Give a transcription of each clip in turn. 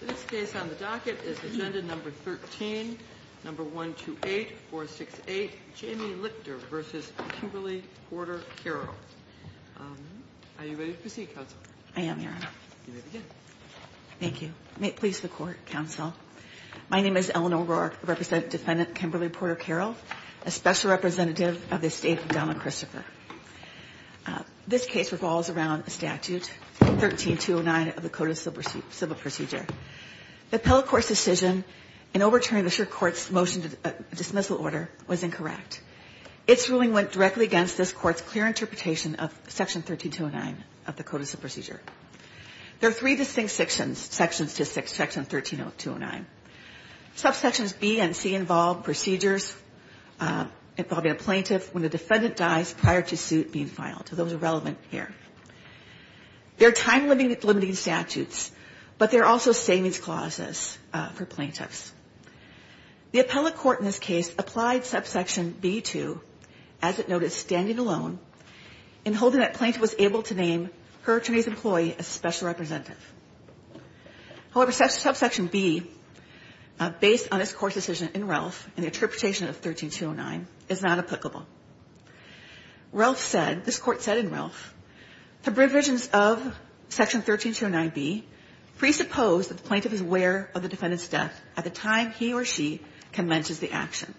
This case on the docket is Agenda No. 13, No. 128468, Jamie Lichter v. Kimberly-Porter-Carroll. Are you ready to proceed, Counselor? I am, Your Honor. You may begin. Thank you. May it please the Court, Counsel. My name is Eleanor Roark, a representative defendant, Kimberly-Porter-Carroll, a special representative of the estate of Donna Christopher. This case revolves around a statute, 13-209 of the Code of Civil Procedure. The appellate court's decision in overturning the court's motion to dismissal order was incorrect. Its ruling went directly against this court's clear interpretation of Section 13-209 of the Code of Civil Procedure. There are three distinct sections, sections to section 13-209. Subsections B and C involve procedures involving a plaintiff when the defendant dies prior to suit being filed. So those are relevant here. There are time-limiting statutes, but there are also savings clauses for plaintiffs. The appellate court in this case applied Subsection B to, as it noted, standing alone and holding that plaintiff was able to name her attorney's employee as a special representative. However, Subsection B, based on its court's decision in Ralph and the interpretation of Section 13-209, is not applicable. Ralph said, this Court said in Ralph, the provisions of Section 13-209B presuppose that the plaintiff is aware of the defendant's death at the time he or she commences the action.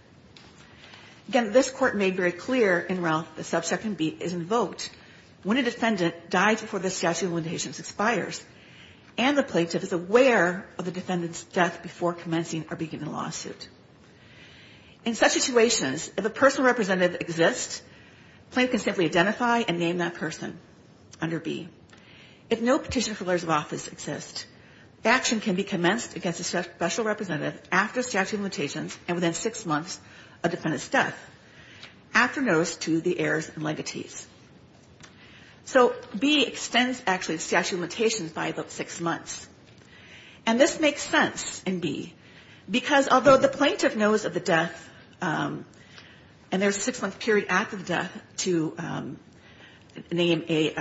Again, this Court made very clear in Ralph that Subsection B is invoked when a defendant dies before the statute of limitations expires, and the plaintiff is aware of the defendant's death before commencing or beginning a lawsuit. In such situations, if a personal representative exists, the plaintiff can simply identify and name that person under B. If no petition for lawyers of office exists, action can be commenced against a special representative after statute of limitations and within six months of the defendant's death, after notice to the heirs and legatees. So B extends, actually, the statute of limitations by about six months. And this makes sense in B, because although the plaintiff knows of the death, and there's a six-month period after the death, to name a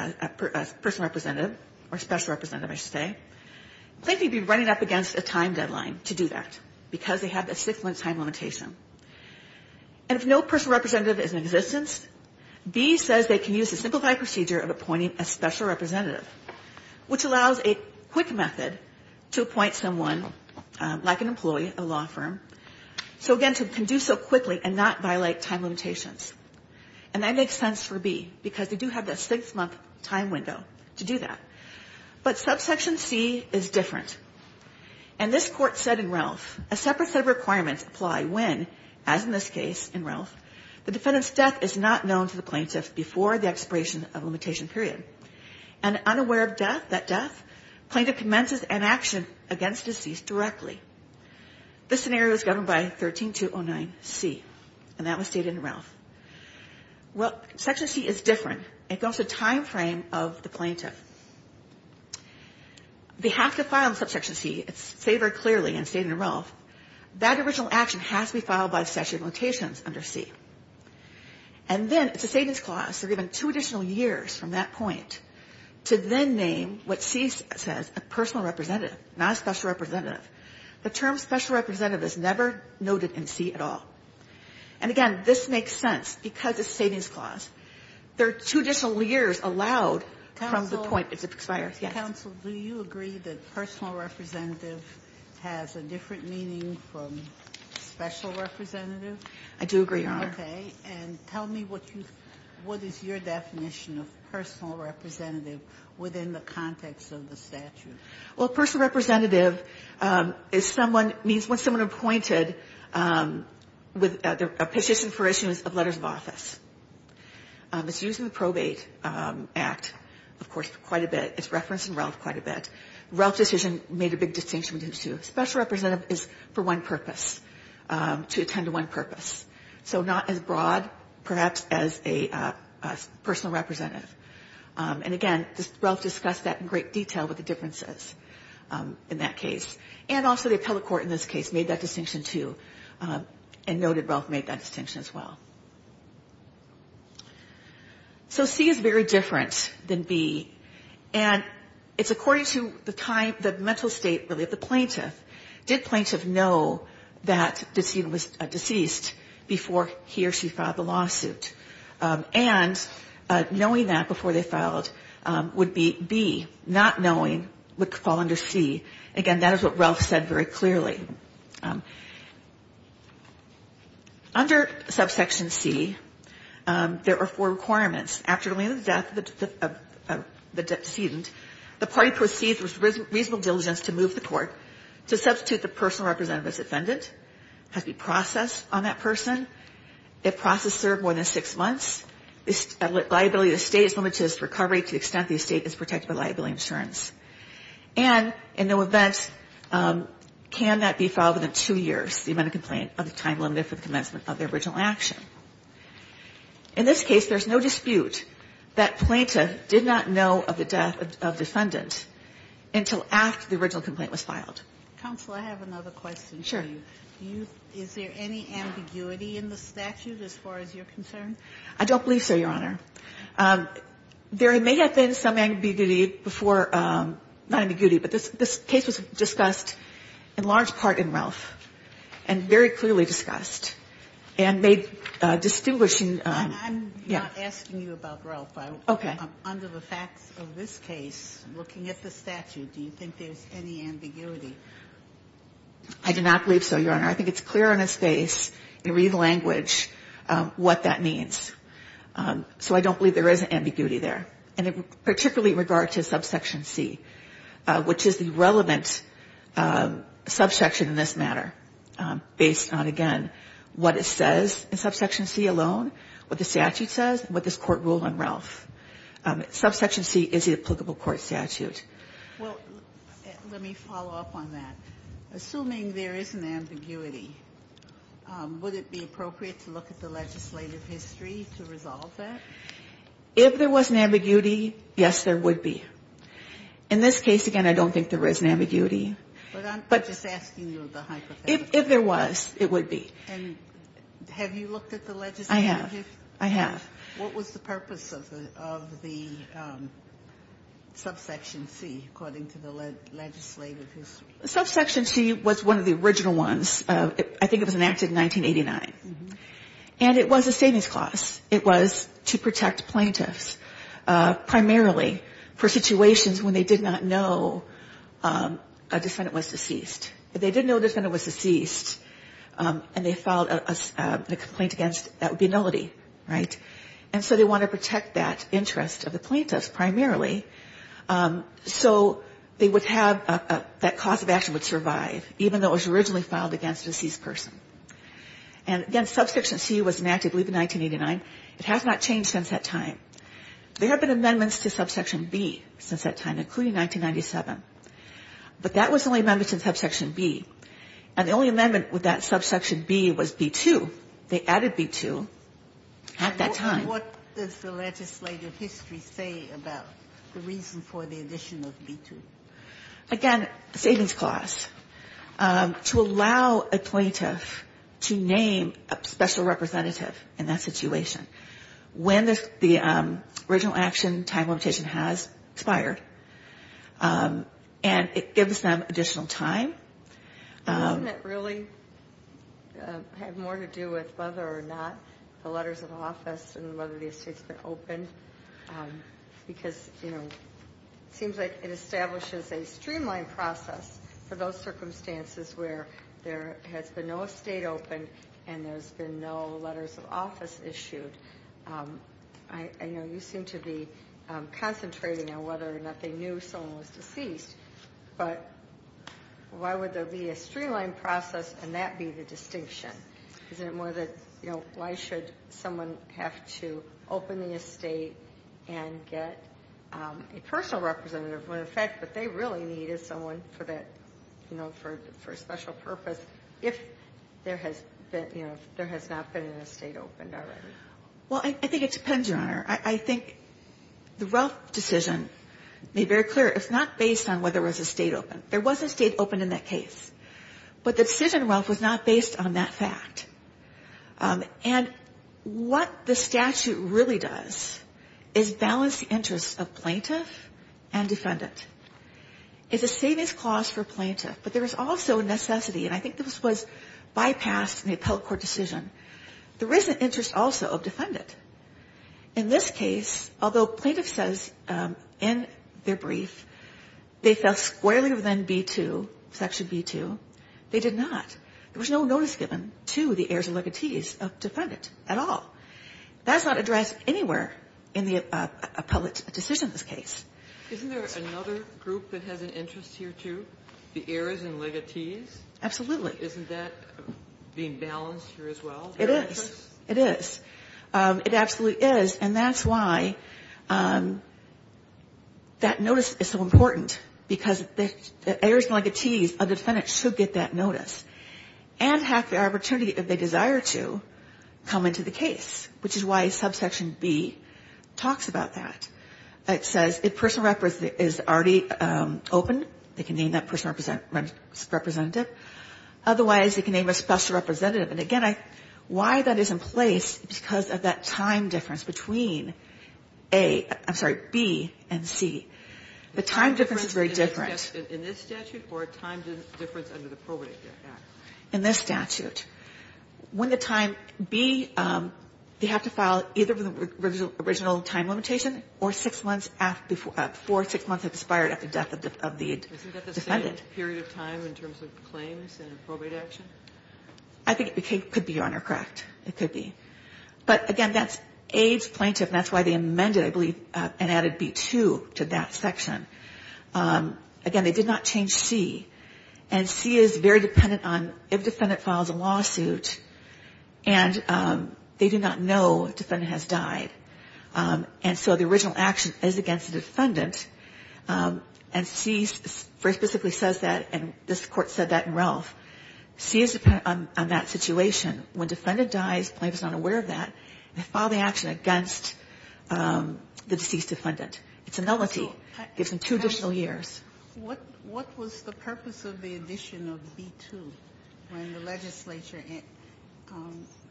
person representative, or special representative, I should say, the plaintiff would be running up against a time deadline to do that, because they have that six-month time limitation. And if no personal representative is in existence, B says they can use the simplified procedure of appointing a special representative, which allows a quick method, to appoint someone, like an employee, a law firm, so again, can do so quickly and not violate time limitations. And that makes sense for B, because they do have that six-month time window to do that. But subsection C is different. And this Court said in Ralph, a separate set of requirements apply when, as in this case in Ralph, the defendant's death is not known to the plaintiff before the plaintiff commences an action against the deceased directly. This scenario is governed by 13-209C. And that was stated in Ralph. Well, section C is different. It goes to the timeframe of the plaintiff. They have to file subsection C. It's stated very clearly in Ralph. That original action has to be filed by the statute of limitations under C. And then it's a savings clause. They're given two additional years from that point to then name what C says, a personal representative, not a special representative. The term special representative is never noted in C at all. And again, this makes sense because it's a savings clause. There are two additional years allowed from the point it expires. Yes. Ginsburg. Counsel, do you agree that personal representative has a different meaning from special representative? I do agree, Your Honor. Okay. And tell me what is your definition of personal representative within the context of the statute? Well, personal representative is someone, means when someone appointed with a position for issuance of letters of office. It's used in the Probate Act, of course, quite a bit. It's referenced in Ralph quite a bit. Ralph's decision made a big distinction between the two. Special representative is for one purpose, to attend to one purpose. So not as broad, perhaps, as a personal representative. And again, Ralph discussed that in great detail with the differences in that case. And also the appellate court in this case made that distinction, too, and noted Ralph made that distinction as well. So C is very different than B. And it's according to the time, the mental state, really, of the plaintiff. Did plaintiff know that the decedent was deceased before he or she filed the lawsuit? And knowing that before they filed would be B. Not knowing would fall under C. Again, that is what Ralph said very clearly. Under subsection C, there are four requirements. After the death of the decedent, the party proceeds with reasonable diligence to move the court to substitute the personal representative as defendant. It has to be processed on that person. If process served more than six months, liability of the estate is limited to its recovery to the extent the estate is protected by liability insurance. And in no event can that be filed within two years, the amount of complaint, of the time limited for the commencement of the original action. In this case, there's no dispute that plaintiff did not know of the death of defendant until after the original complaint was filed. Counsel, I have another question for you. Sure. Is there any ambiguity in the statute as far as you're concerned? I don't believe so, Your Honor. There may have been some ambiguity before ñ not ambiguity, but this case was discussed in large part in Ralph and very clearly discussed. And they distinguish in ñ I'm not asking you about Ralph. Okay. Under the facts of this case, looking at the statute, do you think there's any ambiguity? I do not believe so, Your Honor. I think it's clear on its face, in read language, what that means. So I don't believe there is ambiguity there. And particularly in regard to subsection C, which is the relevant subsection in this matter, based on, again, what it says in subsection C alone, what the statute says and what this Court ruled on Ralph. Subsection C is the applicable court statute. Well, let me follow up on that. Assuming there is an ambiguity, would it be appropriate to look at the legislative history to resolve that? If there was an ambiguity, yes, there would be. In this case, again, I don't think there is an ambiguity. But I'm just asking you the hypothetical. If there was, it would be. And have you looked at the legislative history? I have. I have. What was the purpose of the subsection C, according to the legislative history? Subsection C was one of the original ones. I think it was enacted in 1989. And it was a savings clause. It was to protect plaintiffs, primarily for situations when they did not know a defendant was deceased. If they didn't know a defendant was deceased, and they filed a complaint against, that would be a nullity, right? And so they want to protect that interest of the plaintiffs, primarily, so they would have that cause of action would survive, even though it was originally filed against a deceased person. And, again, subsection C was enacted, I believe, in 1989. It has not changed since that time. There have been amendments to subsection B since that time, including 1997. But that was the only amendment to subsection B. And the only amendment with that subsection B was B-2. They added B-2 at that time. And what does the legislative history say about the reason for the addition of B-2? Again, savings clause. To allow a plaintiff to name a special representative in that situation. When the original action time limitation has expired. And it gives them additional time. Doesn't it really have more to do with whether or not the letters of office and whether the estate has been opened? Because it seems like it establishes a streamlined process for those circumstances where there has been no estate opened and there's been no letters of office issued. I know you seem to be concentrating on whether or not they knew someone was deceased. But why would there be a streamlined process and that be the distinction? Isn't it more that, you know, why should someone have to open the estate and get a personal representative? In effect, what they really need is someone for that, you know, for a special purpose if there has been, you know, there has not been an estate opened already. Well, I think it depends, Your Honor. I think the Relf decision made very clear it's not based on whether there was an estate opened. There was an estate opened in that case. But the decision, Relf, was not based on that fact. And what the statute really does is balance the interests of plaintiff and defendant. It's a savings clause for plaintiff, but there is also a necessity, and I think this was bypassed in the appellate court decision. There is an interest also of defendant. In this case, although plaintiff says in their brief they fell squarely within B2, Section B2, they did not. There was no notice given to the heirs and legatees of defendant at all. That's not addressed anywhere in the appellate decision in this case. Isn't there another group that has an interest here, too? The heirs and legatees? Absolutely. Isn't that being balanced here as well? It is. It is. It absolutely is, and that's why that notice is so important, because the heirs and legatees of defendant should get that notice and have the opportunity, if they desire to, come into the case, which is why subsection B talks about that. It says if personal representative is already open, they can name that personal representative. Otherwise, they can name a special representative. And again, why that is in place is because of that time difference between A, I'm sorry, B and C. The time difference is very different. In this statute or a time difference under the Probate Act? In this statute. When the time B, they have to file either the original time limitation or six months after, before six months have expired after the death of the defendant. Isn't that the same period of time in terms of claims and probate action? I think it could be, Your Honor, correct. It could be. But again, that's A's plaintiff, and that's why they amended, I believe, and added B-2 to that section. Again, they did not change C. And C is very dependent on if the defendant files a lawsuit, and they do not know the defendant has died. And so the original action is against the defendant. And C specifically says that, and this Court said that in Ralph. C is dependent on that situation. When the defendant dies, the plaintiff is not aware of that. They file the action against the deceased defendant. It's a nullity. It gives them two additional years. What was the purpose of the addition of B-2 when the legislature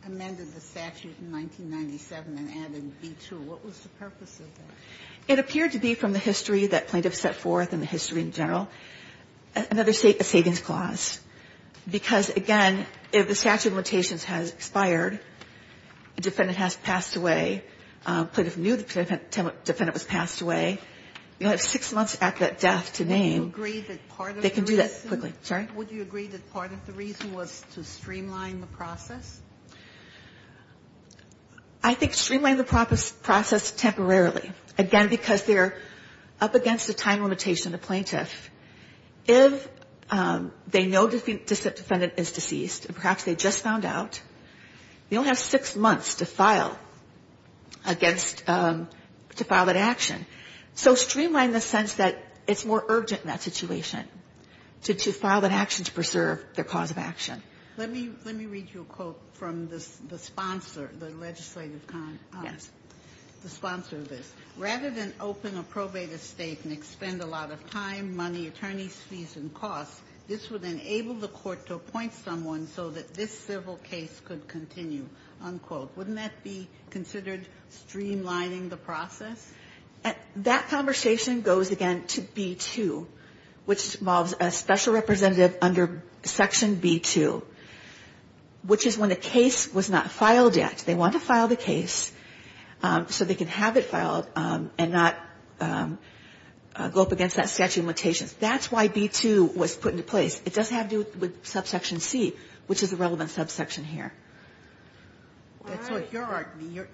amended the statute in 1997 and added B-2? What was the purpose of that? It appeared to be from the history that plaintiffs set forth and the history in general, another savings clause, because, again, if the statute of limitations has expired, the defendant has passed away. Plaintiff knew the defendant was passed away. You have six months after death to name. They can do that quickly. Sorry? Would you agree that part of the reason was to streamline the process? I think streamline the process temporarily. Again, because they're up against a time limitation, the plaintiff. If they know the defendant is deceased, and perhaps they just found out, they only have six months to file against, to file that action. So streamline the sense that it's more urgent in that situation to file that action to preserve their cause of action. Let me read you a quote from the sponsor, the legislative sponsor of this. Rather than open a probate estate and expend a lot of time, money, attorneys' fees and costs, this would enable the court to appoint someone so that this civil case could continue, unquote. Wouldn't that be considered streamlining the process? That conversation goes, again, to B-2, which involves a special representative under Section B-2, which is when a case was not filed yet. They want to file the case so they can have it filed and not go up against that statute of limitations. That's why B-2 was put into place. It does have to do with Subsection C, which is the relevant subsection here. All right.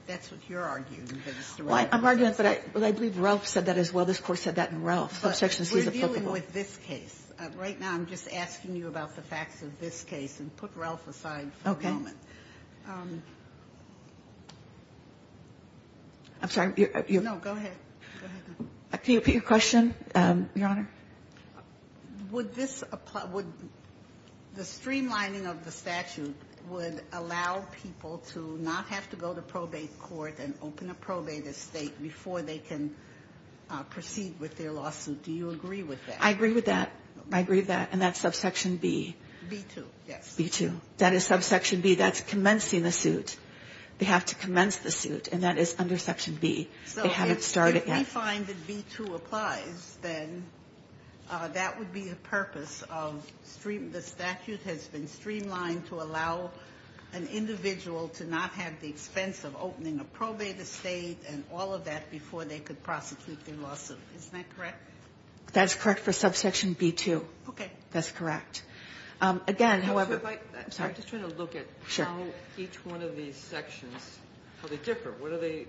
That's what you're arguing. I'm arguing it, but I believe Ralph said that as well. This Court said that in Ralph. Subsection C is applicable. We're dealing with this case. Right now, I'm just asking you about the facts of this case, and put Ralph aside for a moment. Okay. I'm sorry. No, go ahead. Can you repeat your question, Your Honor? Would this apply? Would the streamlining of the statute would allow people to not have to go to probate court and open a probate estate before they can proceed with their lawsuit? Do you agree with that? I agree with that. I agree with that. And that's Subsection B. B-2. Yes. B-2. That is Subsection B. That's commencing the suit. They have to commence the suit, and that is under Section B. They haven't started yet. If we find that B-2 applies, then that would be the purpose of the statute has been streamlined to allow an individual to not have the expense of opening a probate estate and all of that before they could prosecute their lawsuit. Isn't that correct? That is correct for Subsection B-2. Okay. That's correct. Again, however — I'm sorry. I'm just trying to look at how each one of these sections, how they differ. What is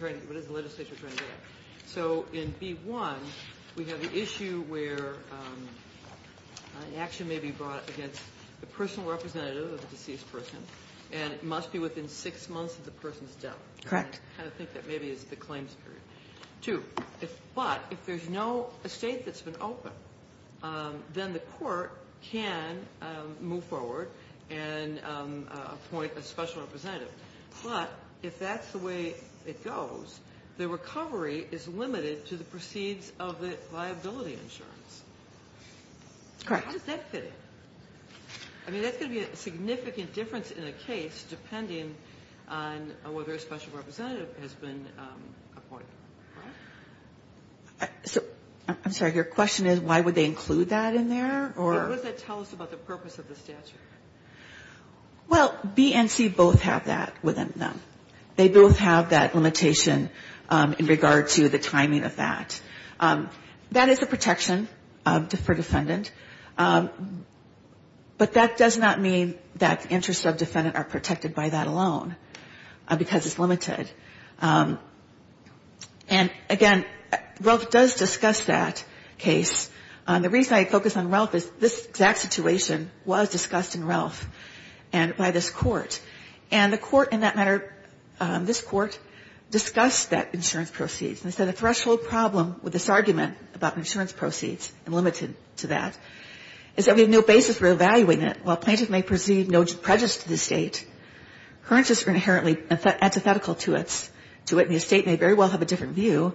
the legislature trying to get at? So in B-1, we have the issue where an action may be brought against the personal representative of the deceased person, and it must be within six months of the person's death. Correct. I think that maybe is the claims period. Two. But if there's no estate that's been opened, then the court can move forward and appoint a special representative. But if that's the way it goes, the recovery is limited to the proceeds of the liability insurance. Correct. How does that fit in? I mean, that's going to be a significant difference in a case depending on whether a special representative has been appointed. I'm sorry. Your question is why would they include that in there, or — What does that tell us about the purpose of the statute? Well, B and C both have that within them. They both have that limitation in regard to the timing of that. That is a protection for defendant. But that does not mean that interests of defendant are protected by that alone, because it's limited. And, again, RELF does discuss that case. The reason I focus on RELF is this exact situation was discussed in RELF and by this court. And the court in that matter, this court, discussed that insurance proceeds. And they said the threshold problem with this argument about insurance proceeds and limited to that is that we have no basis for evaluating it. While plaintiffs may perceive no prejudice to the estate, currencies are inherently antithetical to it, and the estate may very well have a different view.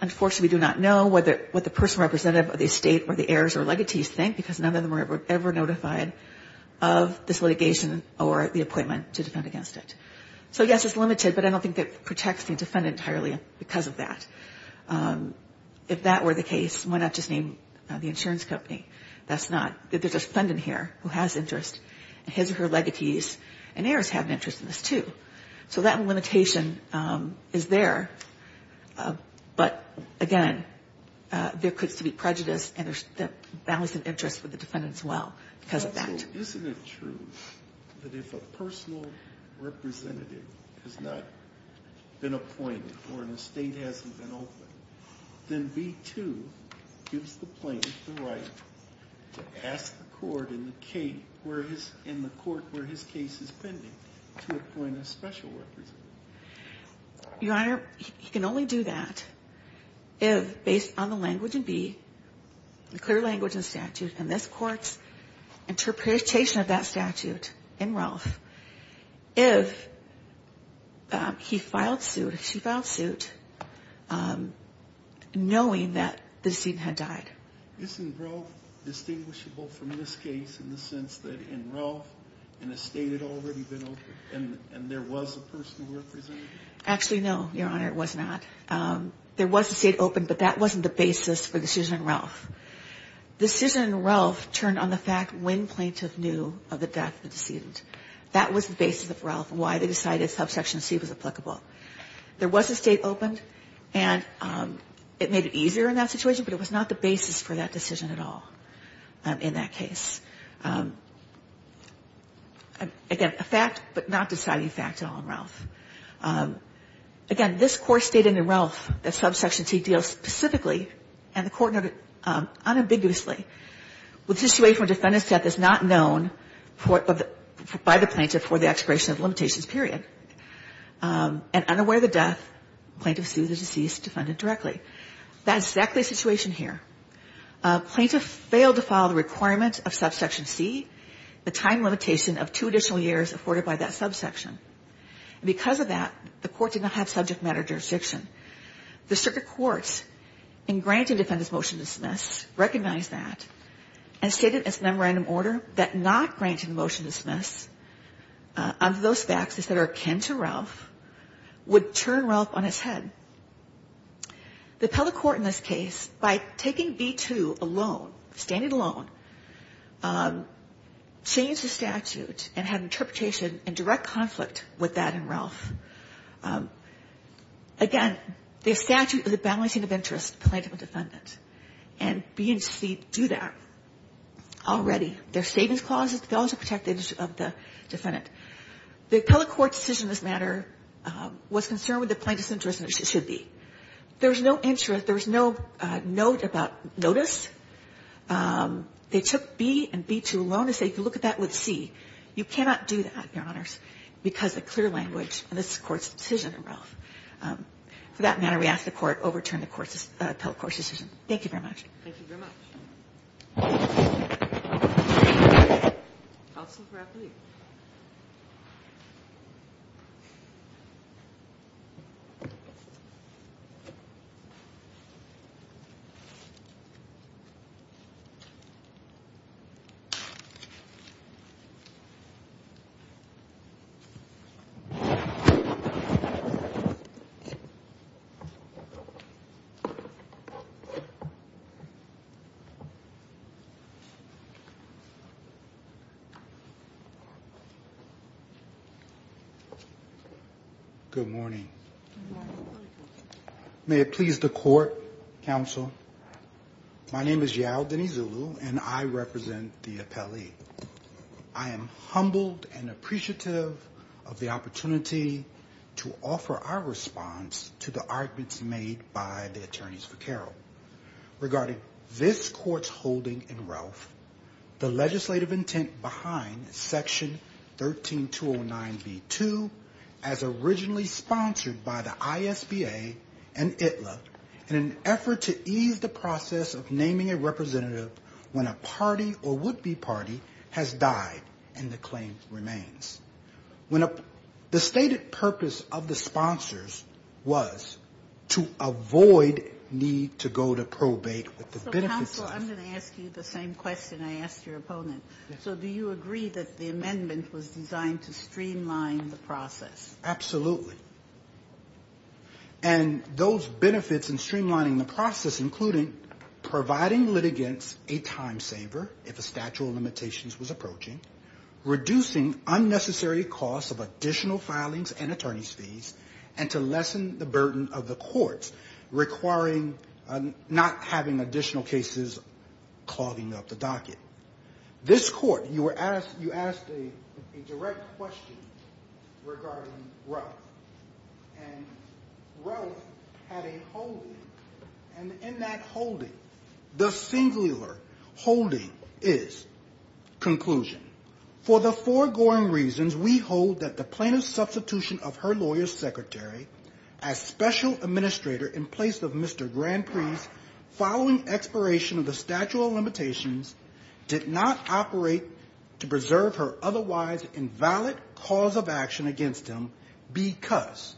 Unfortunately, we do not know what the personal representative of the estate or the heirs or legatees think, because none of them were ever notified of this litigation or the appointment to defend against it. So, yes, it's limited, but I don't think that protects the defendant entirely because of that. If that were the case, why not just name the insurance company? That's not — there's a defendant here who has interest, and his or her legatees and heirs have an interest in this, too. So that limitation is there. But, again, there could still be prejudice, and there's a balance of interest for the defendant as well because of that. So isn't it true that if a personal representative has not been appointed or an estate hasn't been opened, then B-2 gives the plaintiff the right to ask the court in the case where his — in the court where his case is pending to appoint a special representative? Your Honor, he can only do that if, based on the language in B, the clear language in the statute, and this Court's interpretation of that statute in Ralph, if he filed suit, she filed suit, knowing that the decedent had died. Isn't Ralph distinguishable from this case in the sense that in Ralph, an estate had already been opened, and there was a personal representative? Actually, no, Your Honor, it was not. There was an estate opened, but that wasn't the basis for the decision in Ralph. The decision in Ralph turned on the fact when plaintiff knew of the death of the decedent. That was the basis of Ralph, why they decided subsection C was applicable. There was an estate opened, and it made it easier in that situation, but it was not the basis for that decision at all in that case. Again, a fact, but not deciding fact at all in Ralph. Again, this Court stated in Ralph that subsection C deals specifically, and the Court noted unambiguously, with the situation where defendant's death is not known by the plaintiff for the expiration of limitations, period, and unaware of the death, plaintiff sues the deceased defendant directly. That's exactly the situation here. Plaintiff failed to follow the requirements of subsection C, the time limitation of two additional years afforded by that subsection. Because of that, the Court did not have subject matter jurisdiction. The circuit courts in granting defendant's motion to dismiss recognized that and stated in its memorandum order that not granting the motion to dismiss under those facts that are akin to Ralph would turn Ralph on its head. The appellate court in this case, by taking B-2 alone, standing alone, changed the statute and had an interpretation in direct conflict with that in Ralph. Again, the statute is a balancing of interest, plaintiff and defendant. And B and C do that already. They're savings clauses, but they also protect the interest of the defendant. The appellate court's decision in this matter was concerned with the plaintiff's interest, which it should be. There's no interest, there's no note about notice. They took B and B-2 alone to say you can look at that with C. You cannot do that, Your Honors, because of clear language in this Court's decision in Ralph. For that matter, we ask the Court overturn the appellate court's decision. Thank you very much. Thank you very much. Counsel for appellate. Good morning. Good morning. Good morning. May it please the Court, Counsel, my name is Yao Denizulu, and I represent the appellee. I am humbled and appreciative of the opportunity to offer our response to the arguments made by the attorneys for Carroll. Regarding this Court's holding in Ralph, the legislative intent behind Section 13209B-2 as originally sponsored by the ISBA and ITLA in an effort to ease the process of naming a representative when a party or would-be party has died and the claim remains. The stated purpose of the sponsors was to avoid need to go to probate. Counsel, I'm going to ask you the same question I asked your opponent. So do you agree that the amendment was designed to streamline the process? Absolutely. And those benefits in streamlining the process, including providing litigants a time saver if a statute of limitations was approaching, reducing unnecessary costs of additional filings and attorney's fees, and to lessen the burden of the courts requiring not having additional cases clogging up the docket. This Court, you asked a direct question regarding Ralph. And Ralph had a holding. And in that holding, the singular holding is, conclusion. For the foregoing reasons, we hold that the plaintiff's substitution of her lawyer's secretary as special administrator in place of Mr. Grand Prix following expiration of the statute of limitations did not operate to preserve her otherwise invalid cause of action against him because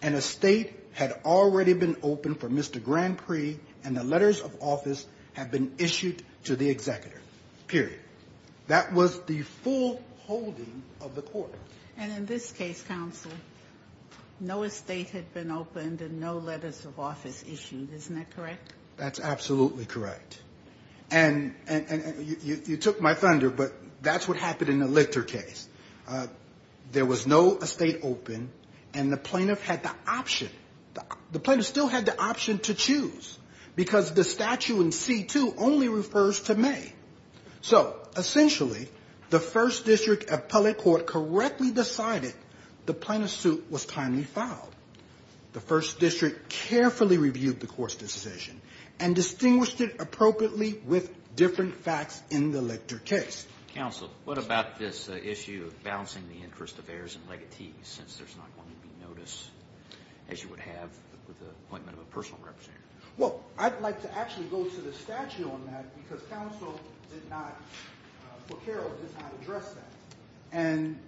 an estate had already been opened for Mr. Grand Prix and the letters of office had been issued to the executor, period. That was the full holding of the court. And in this case, counsel, no estate had been opened and no letters of office issued. Isn't that correct? That's absolutely correct. And you took my thunder, but that's what happened in the Lichter case. There was no estate open, and the plaintiff had the option. The plaintiff still had the option to choose because the statute in C2 only refers to May. So essentially, the first district appellate court correctly decided the plaintiff's suit was timely filed. The first district carefully reviewed the court's decision and distinguished it appropriately with different facts in the Lichter case. Counsel, what about this issue of balancing the interest of heirs and legatees since there's not going to be notice, as you would have with the appointment of a personal representative? Well, I'd like to actually go to the statute on that because counsel did not, for Carroll, did not address that. And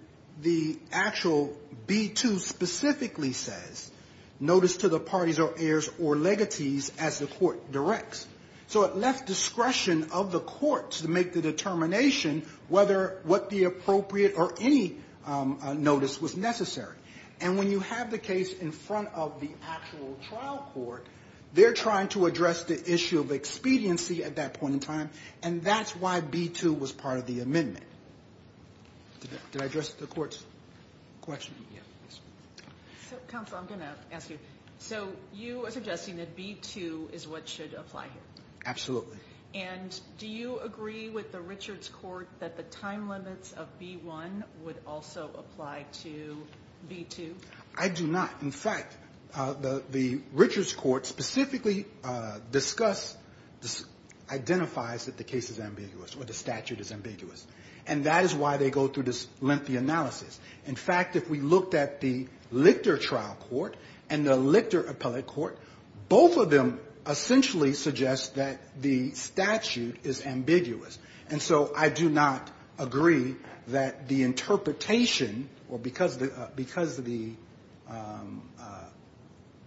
the actual B2 specifically says notice to the parties or heirs or legatees as the court directs. So it left discretion of the courts to make the determination whether what the appropriate or any notice was necessary. And when you have the case in front of the actual trial court, they're trying to address the issue of expediency at that point in time, and that's why B2 was part of the amendment. Did I address the court's question? Yes. Counsel, I'm going to ask you. So you are suggesting that B2 is what should apply here? Absolutely. And do you agree with the Richards Court that the time limits of B1 would also apply to B2? I do not. In fact, the Richards Court specifically discusses, identifies that the case is ambiguous or the statute is ambiguous. And that is why they go through this lengthy analysis. In fact, if we looked at the Lichter trial court and the Lichter appellate court, both of them essentially suggest that the statute is ambiguous. And so I do not agree that the interpretation, or because the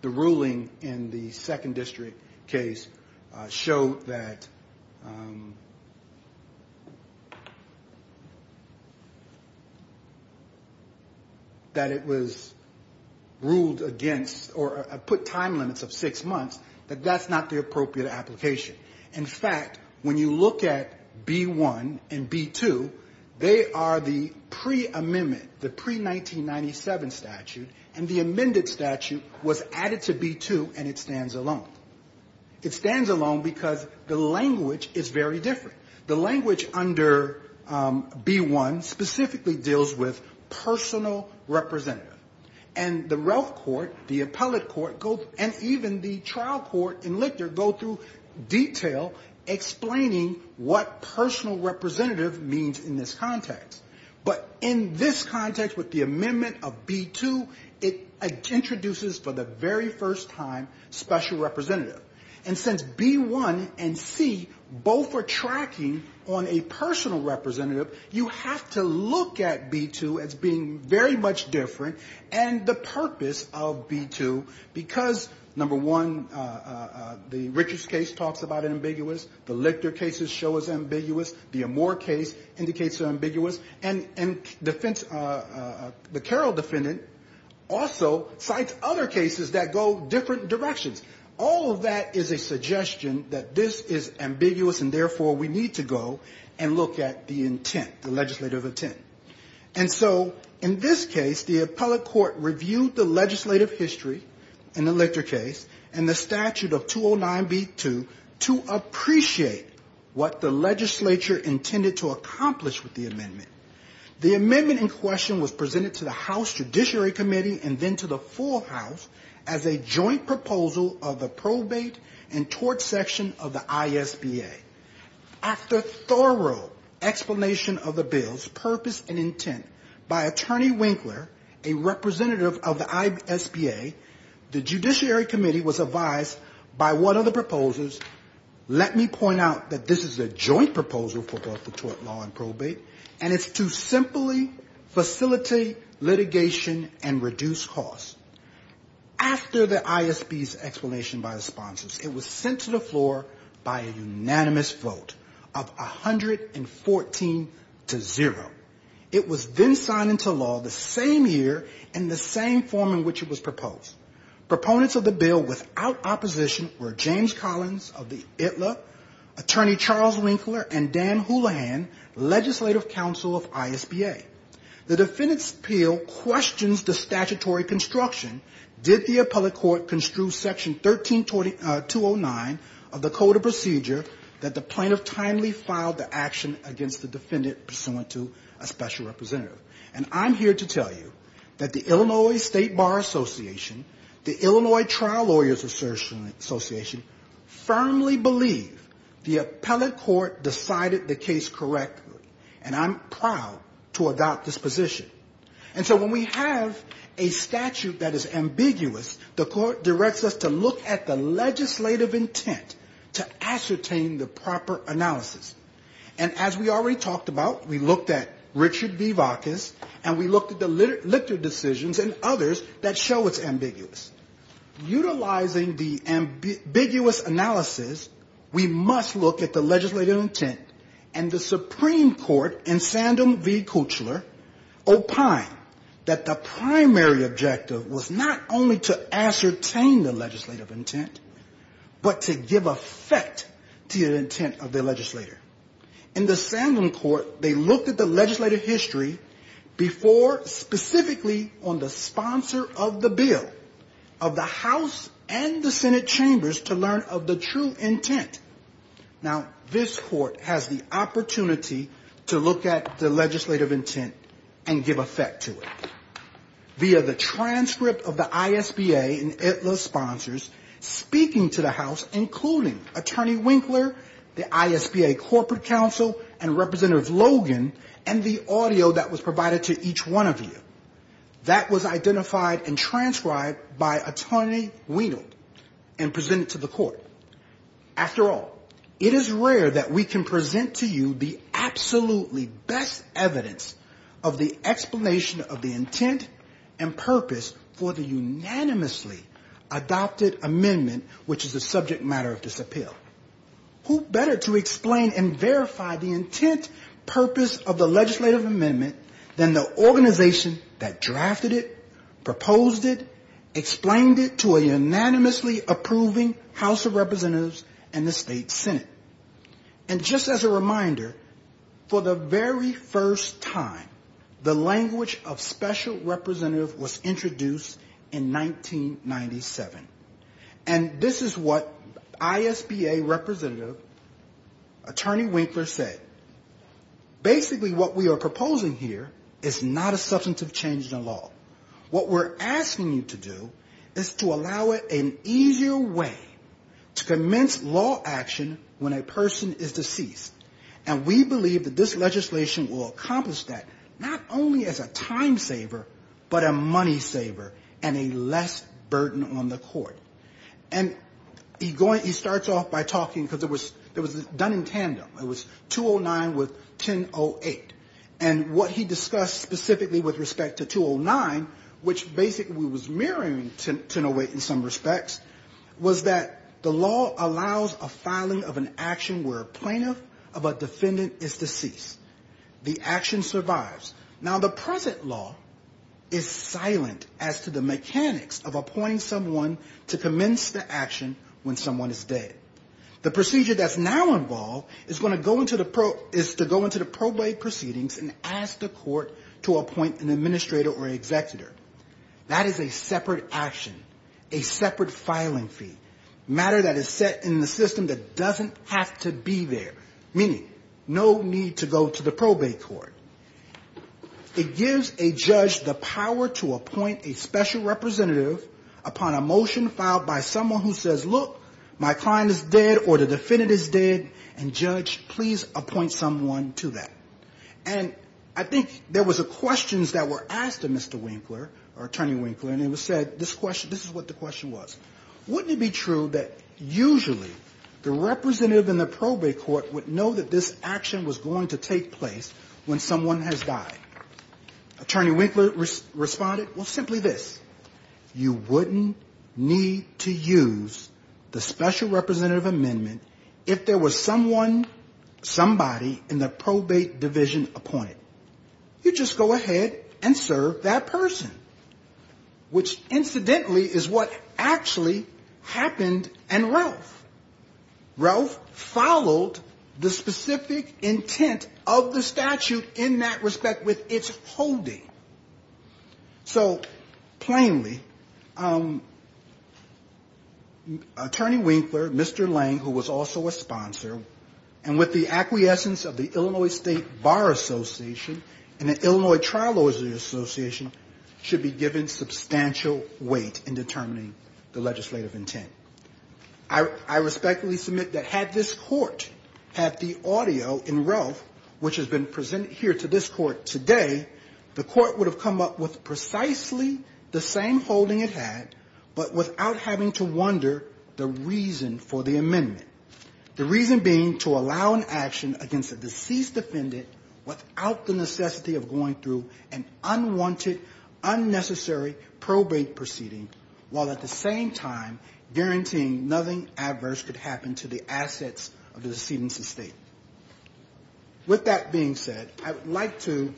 ruling in the second district case showed that it was ruled against or put time limits of six months, that that's not the appropriate application. In fact, when you look at B1 and B2, they are the pre-amendment, the pre-1997 statute, and the amended statute was added to B2, and it stands alone. It stands alone because the language is very different. The language under B1 specifically deals with personal representative. And the Relf Court, the appellate court, and even the trial court in Lichter go through detail explaining what personal representative means in this context. But in this context with the amendment of B2, it introduces for the very first time special representative. And since B1 and C both are tracking on a personal representative, you have to look at B2 as being very much different and the purpose of B2 because, number one, the Richards case talks about ambiguous, the Lichter cases show it's ambiguous, the Amore case indicates it's ambiguous, and the Carroll defendant also cites other cases that go different directions. All of that is a suggestion that this is ambiguous, and therefore we need to go and look at the intent, the legislative intent. And so in this case, the appellate court reviewed the legislative history in the Lichter case and the statute of 209B2 to appreciate what the legislature intended to accomplish with the amendment. The amendment in question was presented to the House Judiciary Committee and then to the full House as a joint proposal of the probate and tort section of the ISBA. After thorough explanation of the bills, purpose and intent, by attorney Winkler, a representative of the ISBA, the Judiciary Committee was advised by one of the proposals, let me point out that this is a joint proposal for tort law and probate, and it's to simply facilitate litigation and reduce costs. After the ISB's explanation by the sponsors, it was sent to the floor by a unanimous majority in a unanimous vote of 114 to zero. It was then signed into law the same year in the same form in which it was proposed. Proponents of the bill without opposition were James Collins of the ITLA, attorney Charles Winkler, and Dan Houlihan, legislative counsel of ISBA. The defendant's appeal questions the statutory construction. Did the appellate court construe section 13209 of the code of procedure that the plaintiff timely filed the action against the defendant pursuant to a special representative? And I'm here to tell you that the Illinois State Bar Association, the Illinois Trial Lawyers Association, firmly believe the appellate court decided the case correctly, and I'm proud to adopt this position. And so when we have a statute that is ambiguous, the court directs us to look at the legislative intent to ascertain the proper analysis. And as we already talked about, we looked at Richard V. Vacas, and we looked at the Lictor decisions and others that show it's ambiguous. Utilizing the ambiguous analysis, we must look at the legislative intent. And the Supreme Court in Sandham v. Kuchler opined that the primary objective was not only to ascertain the legislative intent, but to give effect to the intent of the legislator. In the Sandham court, they looked at the legislative history before specifically on the sponsor of the bill, of the House and the Senate chambers to learn of the true intent. Now, this court has the opportunity to look at the legislative intent and give effect to it. Via the transcript of the ISBA and ITLA sponsors speaking to the House, including Attorney Winkler, the ISBA corporate counsel, and Representative Logan, and the audio that was provided to each one of you. That was identified and transcribed by Attorney Wienold and presented to the court. After all, it is rare that we can present to you the absolutely best evidence of the explanation of the intent and purpose for the unanimously adopted amendment, which is the subject matter of this appeal. Who better to explain and verify the intent, purpose of the legislative amendment than the organization that drafted it, proposed it, explained it to a unanimously approving House of Representatives? And the State Senate? And just as a reminder, for the very first time, the language of special representative was introduced in 1997. And this is what ISBA representative Attorney Winkler said. Basically, what we are proposing here is not a substantive change in the law. What we're asking you to do is to allow an easier way to commence law action when a person is deceased. And we believe that this legislation will accomplish that, not only as a time saver, but a money saver and a less burden on the court. And he starts off by talking, because it was done in tandem. It was 209 with 1008. And what he discussed specifically with respect to 209, which basically was mirroring 1008 in some respects, was that the law allows a filing of an action where a plaintiff of a defendant is deceased. The action survives. Now, the present law is silent as to the mechanics of appointing someone to commence the action when someone is dead. The procedure that's now involved is to go into the probate proceedings and ask the court to appoint an administrator or executor. That is a separate action. A separate filing fee. Matter that is set in the system that doesn't have to be there. Meaning, no need to go to the probate court. It gives a judge the power to appoint a special representative upon a motion filed by someone who says, look, my client is dead or the defendant is dead, and judge, please appoint someone to that. And I think there was questions that were asked of Mr. Winkler, or Attorney Winkler, and it was said, this is what the question was. Wouldn't it be true that usually the representative in the probate court would know that this action was going to take place when someone has died? Attorney Winkler responded, well, simply this. You wouldn't need to use the special representative amendment if there was someone, somebody in the probate division appointed. You just go ahead and serve that person. Which, incidentally, is what actually happened in Ralph. Ralph followed the specific intent of the statute in that respect with its holding. So, plainly, Attorney Winkler, Mr. Lane, who was also a sponsor, and with the acquiescence of the Illinois State Bar Association and the Illinois Trial Lawyers Association, should be given substantial weight in determining the legislative intent. I respectfully submit that had this court, had the audio in Ralph, which has been presented here to this court today, the court would have come up with precisely the same holding it had, but without having to wonder the reason for the amendment. The reason being to allow an action against a deceased defendant without the necessity of going through an unwanted, unnecessary probate proceeding, while at the same time guaranteeing nothing adverse could happen to the assets of the decedent's estate. With that being said, I would like to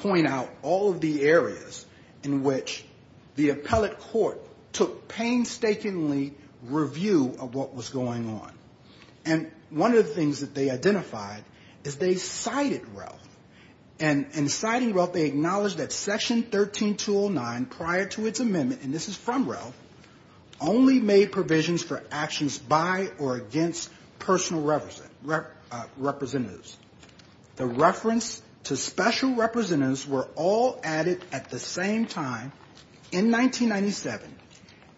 turn it over to Attorney Winkler. I'd like to point out all of the areas in which the appellate court took painstakingly review of what was going on. And one of the things that they identified is they cited Ralph. And in citing Ralph, they acknowledged that Section 13209 prior to its amendment, and this is from Ralph, only made provisions for actions by or against personal representatives. The reference to special representatives were all added at the same time in 1997.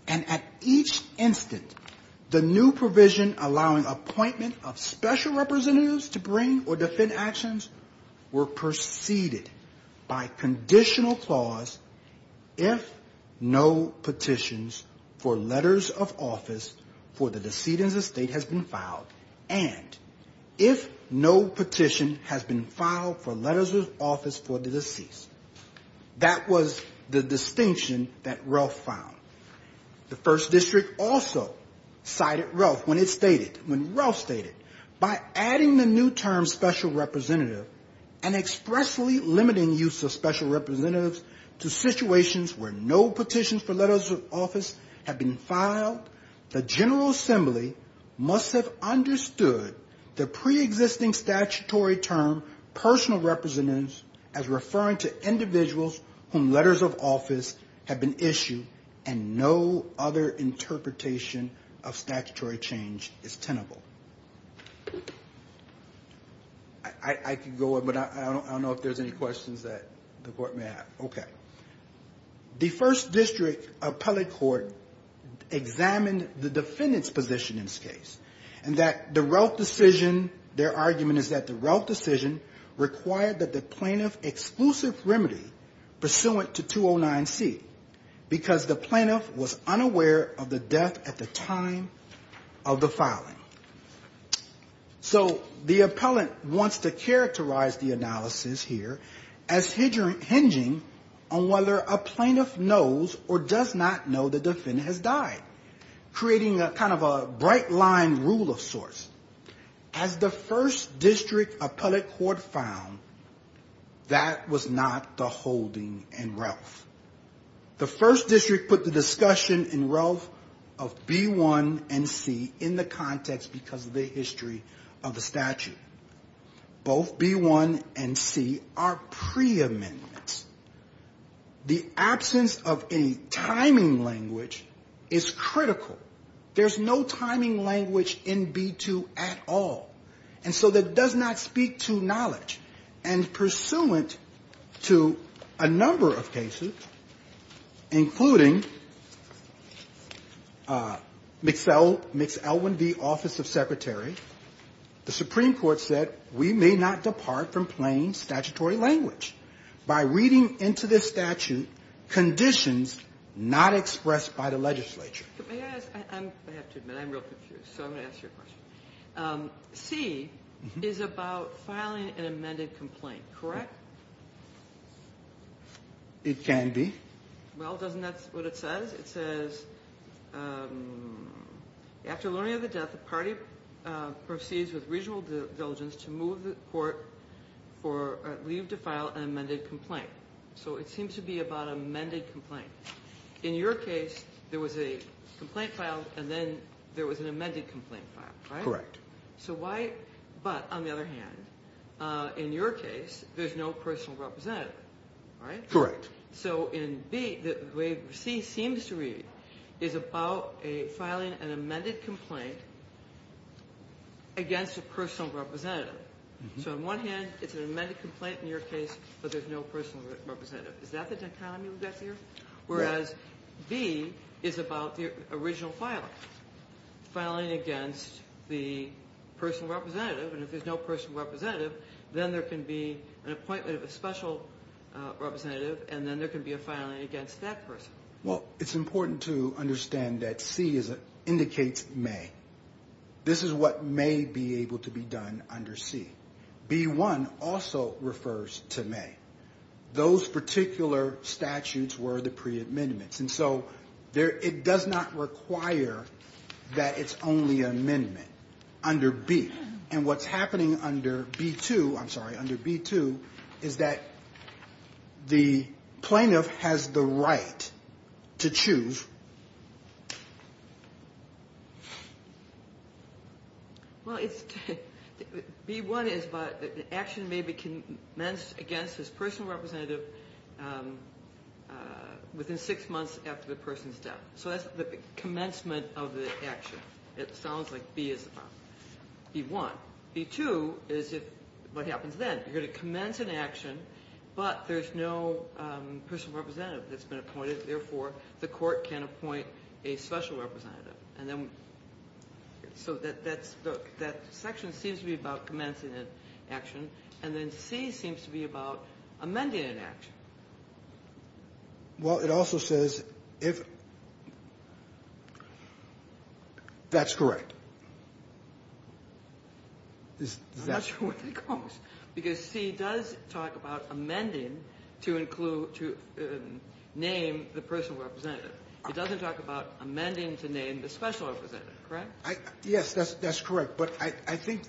And at each instant, the new provision allowing appointment of special representatives to bring or defend actions were preceded by conditional clause, if no petitions for letters of office for the decedent's estate has been filed, and if no petitions for letters of office for the deceased. That was the distinction that Ralph found. The first district also cited Ralph when it stated, when Ralph stated, by adding the new term special representative and expressly limiting use of special representatives to situations where no petitions for letters of office have been filed, the General Assembly must have used the statutory term personal representatives as referring to individuals whom letters of office have been issued, and no other interpretation of statutory change is tenable. I could go on, but I don't know if there's any questions that the court may have. Okay. The first district appellate court examined the defendant's position in this case, and that the Ralph decision required that the plaintiff exclusive remedy pursuant to 209C, because the plaintiff was unaware of the death at the time of the filing. So the appellant wants to characterize the analysis here as hinging on whether a plaintiff knows or does not know the defendant has died, creating a kind of a bright line rule of sorts. As the first district appellate court found, that was not the holding in Ralph. The first district put the discussion in Ralph of B1 and C in the context because of the history of the statute. Both B1 and C are pre-amendments. The absence of any timing language is critical. There's no timing language in B2 at all. And so there doesn't have to be a pre-amendment. It does not speak to knowledge. And pursuant to a number of cases, including Mixell, Mixell 1B, Office of Secretary, the Supreme Court said we may not depart from plain statutory language by reading into this statute conditions not expressed by the legislature. I have to admit, I'm real confused. So I'm going to ask you a question. C is about filing an amended complaint, correct? It can be. Well, doesn't that's what it says? It says, after learning of the death, the party proceeds with regional diligence to move the court for leave to file an amended complaint. So it seems to be about amended complaint. In your case, there was a complaint filed and then there was an amended complaint filed, right? Correct. So why, but on the other hand, in your case, there's no personal representative, right? Correct. So in B, the way C seems to read is about filing an amended complaint against a personal representative. So on one hand, it's an amended complaint in your case, but there's no personal representative. Is that the dichotomy we've got here? Whereas B is about the original filing, filing against the personal representative. And if there's no personal representative, then there can be an appointment of a special representative and then there can be a filing against that person. Well, it's important to understand that C indicates may. This is what may be able to be done under C. B1 also refers to may. Those particular statutes were the pre-amendments. And so it does not require that it's only an amendment under B. And what's happening under B2, I'm sorry, under B2 is that the plaintiff has the right to choose. Well, B1 is about an action may be commenced against his personal representative within six months after the person's death. So that's the commencement of the action. It sounds like B is B1. B2 is what happens then. You're going to commence an action, but there's no personal representative that's been appointed. Therefore, the court can appoint a special representative. And then so that section seems to be about commencing an action. And then C seems to be about amending an action. Well, it also says if that's correct. I'm not sure where that goes. Because C does talk about amending to include, to name the personal representative. It doesn't talk about amending to name the special representative, correct? Yes, that's correct. But I think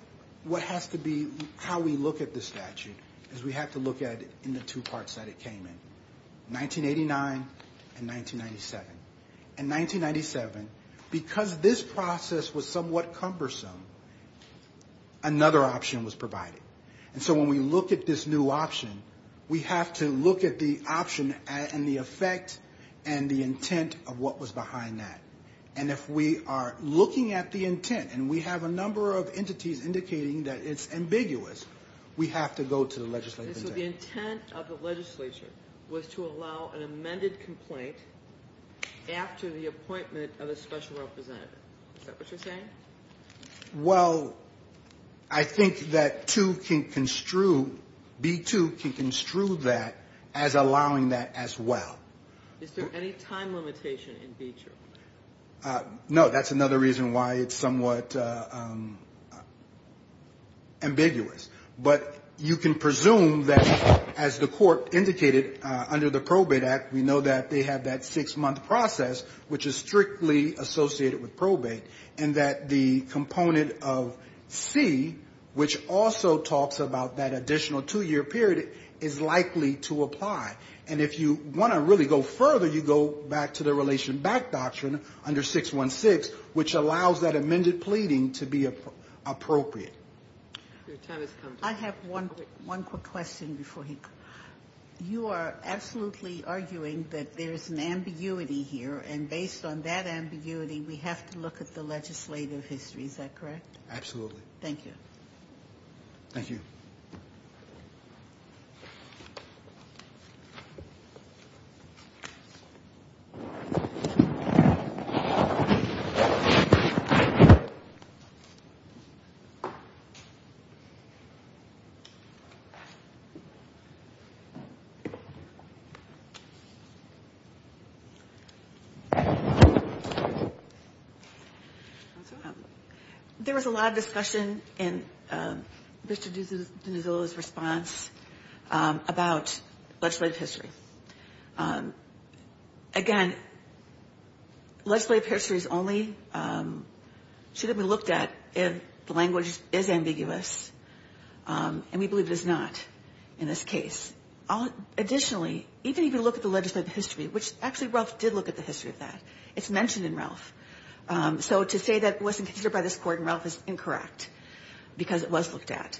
what has to be, how we look at this statute is we have to look at it in the two parts that it came in, 1989 and 1997. Because this process was somewhat cumbersome, another option was provided. And so when we look at this new option, we have to look at the option and the effect and the intent of what was behind that. And if we are looking at the intent, and we have a number of entities indicating that it's ambiguous, we have to go to the legislative intent. And so the intent of the legislature was to allow an amended complaint to be amended. After the appointment of a special representative. Is that what you're saying? Well, I think that B-2 can construe that as allowing that as well. Is there any time limitation in B-2? No, that's another reason why it's somewhat ambiguous. But you can presume that as the court indicated under the Probate Act, we know that they have that six-month process, which is strictly associated with probate. And that the component of C, which also talks about that additional two-year period, is likely to apply. And if you want to really go further, you go back to the relation back doctrine under 616, which allows that amended pleading to be appropriate. I have one quick question before we go. You are absolutely arguing that there's an ambiguity here, and based on that ambiguity, we have to look at the legislative history. Is that correct? Absolutely. Thank you. There was a lot of discussion in Mr. Dinizolo's response about legislative history. Again, legislative history should only be looked at if the language is ambiguous. And we believe it is not in this case. Additionally, even if you look at the legislative history, which actually Ralph did look at the history of that, it's mentioned in Ralph. So to say that it wasn't considered by this Court in Ralph is incorrect, because it was looked at,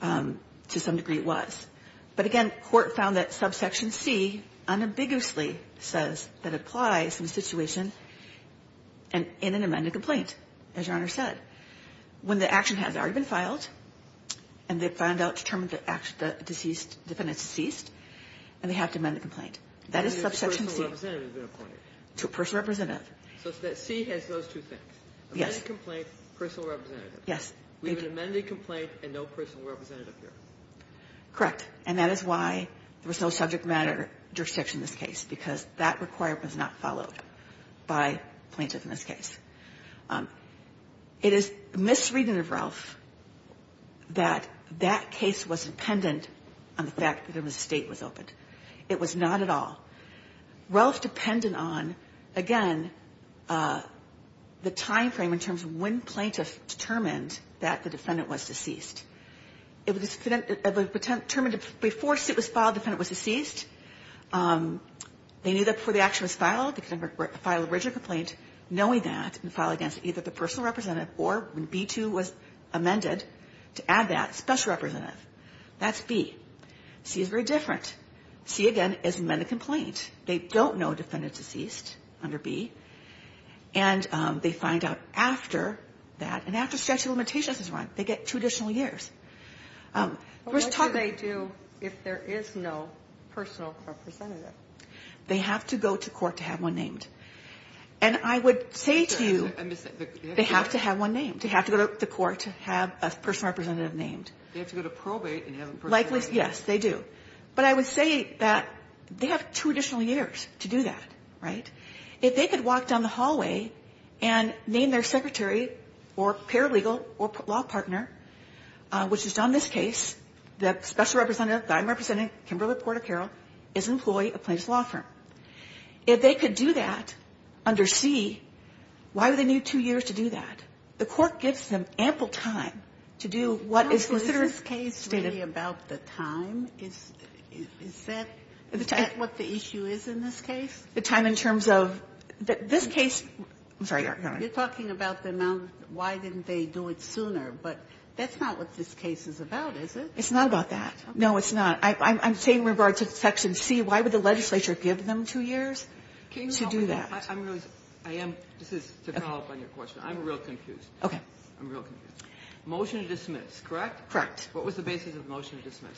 to some degree it was. But again, court found that subsection C unambiguously says that it applies in a situation in an amended complaint, as Your Honor said. When the action has already been filed, and they've found out, determined that the defendant is deceased, and they have to amend the complaint. That is subsection C. So C has those two things? Yes. Correct. And that is why there was no subject matter jurisdiction in this case, because that requirement was not followed by plaintiff in this case. It is misreading of Ralph that that case was dependent on the fact that the state was open. It was not at all. Ralph depended on, again, the time frame in terms of when plaintiff determined that the defendant was deceased. It was determined before it was filed the defendant was deceased. They knew that before the action was filed, the defendant would file an original complaint, knowing that, and file against either the personal representative or, when B-2 was amended, to add that special representative. That's B. C is very different. C, again, is an amended complaint. They don't know a defendant is deceased under B. And they find out after that, and after statute of limitations is run, they get two additional years. What do they do if there is no personal representative? They have to go to court to have one named. They have to go to court to have a personal representative named. They have to go to probate and have a personal representative named. Yes, they do. But I would say that they have two additional years to do that. If they could walk down the hallway and name their secretary or paralegal or law partner, which is done in this case, the special representative that I'm representing, Kimberly Porter Carroll, is an employee of Plaintiff's Law Firm. If they could do that under C, why would they need two years to do that? The Court gives them ample time to do what is considered stated. Are you talking to me about the time? Is that what the issue is in this case? The time in terms of this case. I'm sorry, Your Honor. You're talking about the amount. Why didn't they do it sooner? But that's not what this case is about, is it? It's not about that. No, it's not. I'm saying with regard to Section C, why would the legislature give them two years to do that? I'm going to ask. This is to follow up on your question. I'm real confused. Okay. Motion to dismiss, correct? Correct. What was the basis of the motion to dismiss?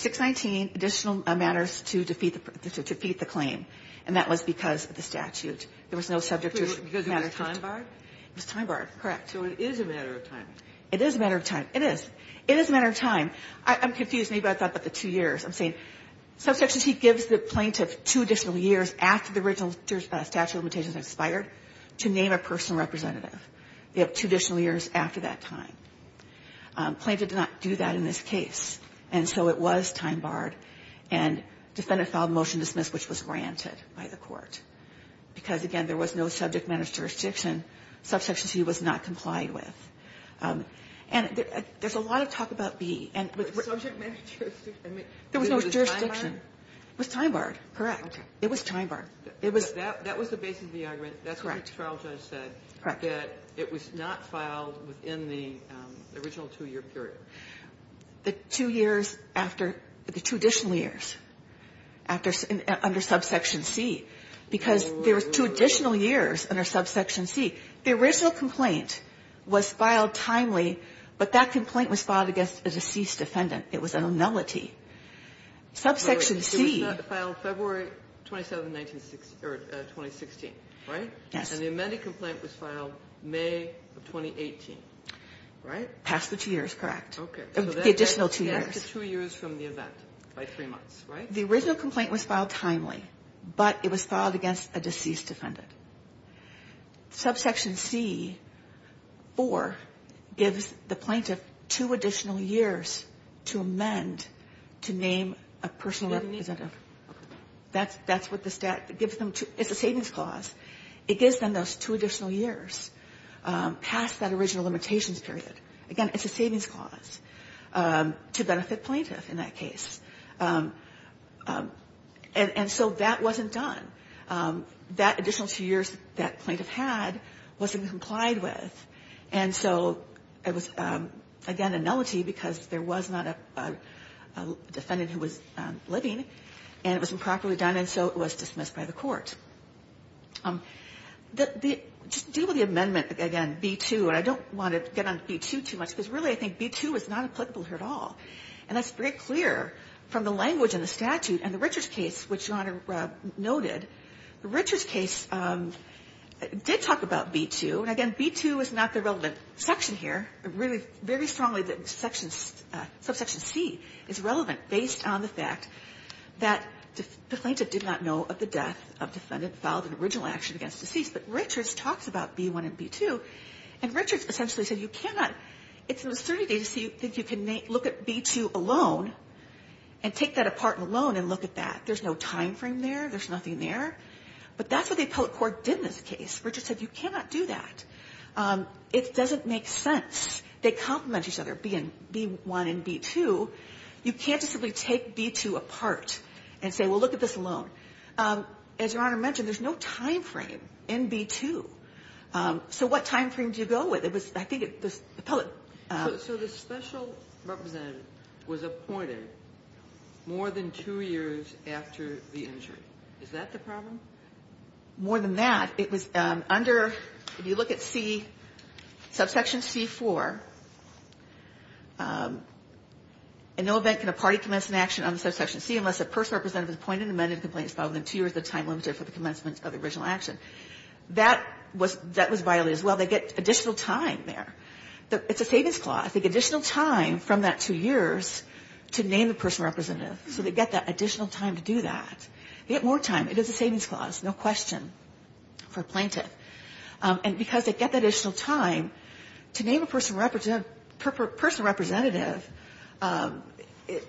619, additional matters to defeat the claim, and that was because of the statute. There was no subject matter to it. Because it was time-barred? It was time-barred, correct. So it is a matter of time. It is a matter of time. It is. It is a matter of time. I'm confused. Maybe I thought about the two years. I'm saying Subsection C gives the plaintiff two additional years after the original statute of limitations expired to name a personal representative. They have two additional years after that time. Plaintiff did not do that in this case, and so it was time-barred, and defendant filed a motion to dismiss, which was granted by the court. Because, again, there was no subject matter jurisdiction. Subsection C was not complied with. And there's a lot of talk about B. Subject matter jurisdiction? There was no jurisdiction. It was time-barred? Correct. It was time-barred. It was. That was the basis of the argument. That's what the trial judge said, that it was not filed within the original two-year period. The two years after the two additional years under Subsection C, because there were two additional years under Subsection C. The original complaint was filed timely, but that complaint was filed against a deceased defendant. It was an annulity. Subsection C... It was not filed February 27, 2016, right? And the amended complaint was filed May of 2018, right? Past the two years, correct. The additional two years. The original complaint was filed timely, but it was filed against a deceased defendant. Subsection C-4 gives the plaintiff two additional years to amend the original two-year statute. To name a personal representative. It's a savings clause. It gives them those two additional years past that original limitations period. Again, it's a savings clause to benefit plaintiff in that case. And so that wasn't done. That additional two years that plaintiff had wasn't complied with. And so it was, again, annulity because there was not a defendant who was living. And it was improperly done, and so it was dismissed by the court. Just deal with the amendment, again, B-2, and I don't want to get on B-2 too much, because really I think B-2 is not applicable here at all. And that's very clear from the language in the statute and the Richards case, which Your Honor noted. The Richards case did talk about B-2, and again, B-2 is not the relevant section here. Really, very strongly that subsection C is relevant based on the fact that the plaintiff did not know of the death of the defendant, filed an original action against the deceased. But Richards talks about B-1 and B-2, and Richards essentially said you cannot, it's an absurdity to think you can look at B-2 alone and take that apart and alone and look at that. There's no time frame there, there's nothing there. But that's what the appellate court did in this case. Richards said you cannot do that. It doesn't make sense. They complement each other, B-1 and B-2. You can't just simply take B-2 apart and say, well, look at this alone. As Your Honor mentioned, there's no time frame in B-2. So what time frame do you go with? It was, I think, the appellate. So the special representative was appointed more than two years after the injury. Is that the problem? More than that, it was under, if you look at C, subsection C-4, in no event can a party commence an action on the subsection C unless a personal representative is appointed, amended, complaints filed, and two years of time limited for the commencement of the original action. That was violated as well. They get additional time there. It's a savings clause. They get additional time from that two years to name a personal representative. So they get that additional time to do that. They get more time. It is a savings clause, no question, for a plaintiff. And because they get that additional time, to name a personal representative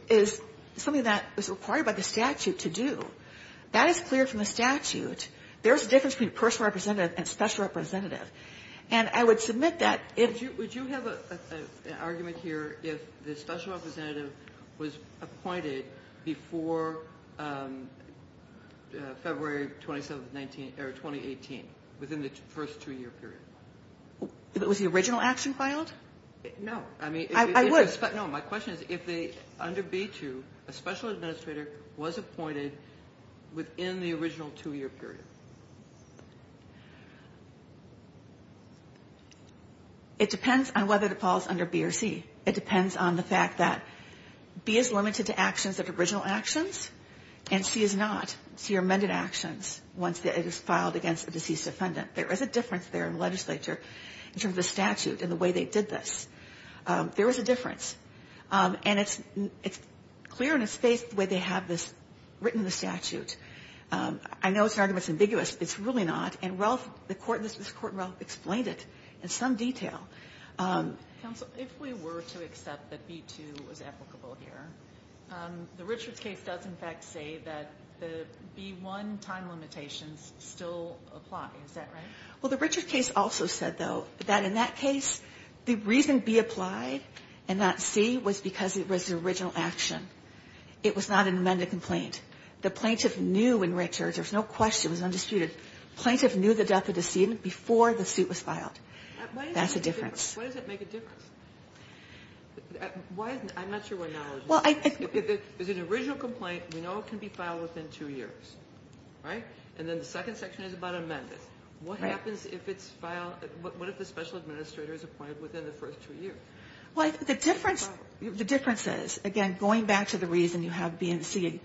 is something that is required by the statute to do. That is clear from the statute. There's a difference between personal representative and special representative. And I would submit that if you ---- Kagan, would you have an argument here if the special representative was appointed before February 27th of 19 or 2018, within the first two-year period? Was the original action filed? No. I would. No. My question is if under B-2, a special administrator was appointed within the original two-year period. It depends on whether DePaul is under B or C. It depends on the fact that B is limited to actions that are original actions and C is not. C are amended actions once it is filed against a deceased defendant. There is a difference there in the legislature in terms of the statute and the way they did this. There is a difference. And it's clear in a space the way they have this written in the statute. I know it's an argument that's ambiguous. It's really not. And Ralph, this Court in Ralph explained it in some detail. Counsel, if we were to accept that B-2 was applicable here, the Richards case does in fact say that the B-1 time limitations still apply. Is that right? Well, the Richards case also said, though, that in that case the reason B applied and not C was because it was an original action. It was not an amended complaint. The plaintiff knew in Richards. There was no question. It was undisputed. The plaintiff knew the death of the decedent before the suit was filed. That's a difference. Why does it make a difference? I'm not sure why not. It's an original complaint. We know it can be filed within two years, right? And then the second section is about amendments. What happens if it's filed? What if the special administrator is appointed within the first two years? Well, the difference is, again, going back to the reason you have B and C,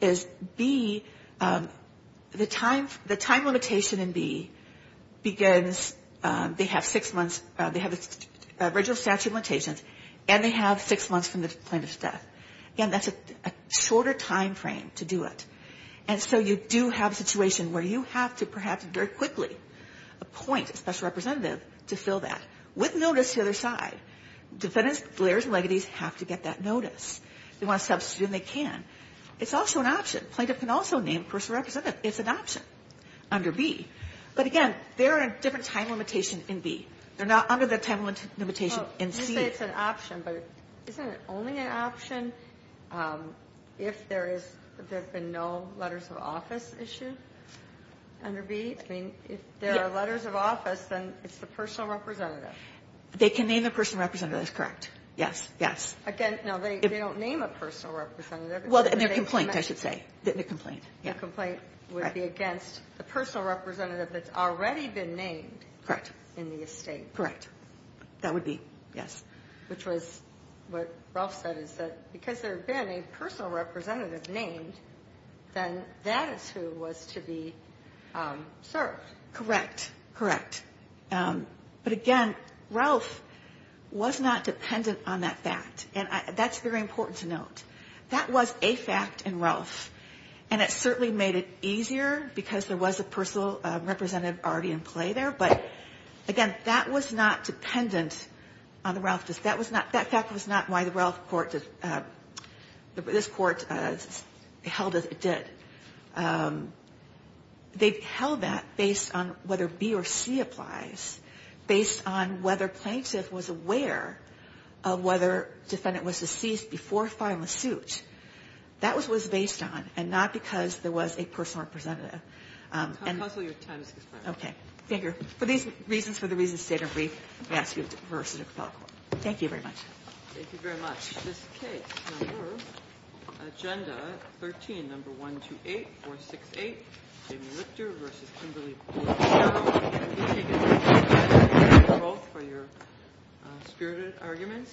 is B, the time limitation in B begins, they have six months, they have original statute limitations, and they have six months from the plaintiff's death. Again, that's a shorter time frame to do it. And so you do have a situation where you have to perhaps very quickly appoint a special representative to fill that, with notice to the other side. Defendants, players, and legatees have to get that notice. They want to substitute, and they can. It's also an option. A plaintiff can also name a personal representative. It's an option under B. But, again, there are different time limitations in B. They're not under the time limitation in C. It's an option. But isn't it only an option if there is no letters of office issue under B? I mean, if there are letters of office, then it's the personal representative. They can name a personal representative. That's correct. Yes, yes. Again, no, they don't name a personal representative. Well, their complaint, I should say. The complaint, yeah. The complaint would be against the personal representative that's already been named in the estate. Correct. That would be, yes. Which was what Ralph said, is that because there had been a personal representative named, then that is who was to be served. Correct, correct. But, again, Ralph was not dependent on that fact. And that's very important to note. That was a fact in Ralph, and it certainly made it easier because there was a personal representative already in play there. But, again, that was not dependent on the Ralph. That fact was not why the Ralph court, this court, held that it did. They held that based on whether B or C applies, based on whether plaintiff was aware of whether defendant was deceased before filing a suit. That was what it was based on, and not because there was a personal representative. Counsel, your time has expired. Okay. Thank you. For these reasons, for the reasons stated, I'm going to ask you to reverse to the Capitol Court. Thank you very much. Thank you very much. This case, number, Agenda 13, Number 128468, Jamie Richter v. Kimberly Porter. I'm going to give you both for your spirited arguments.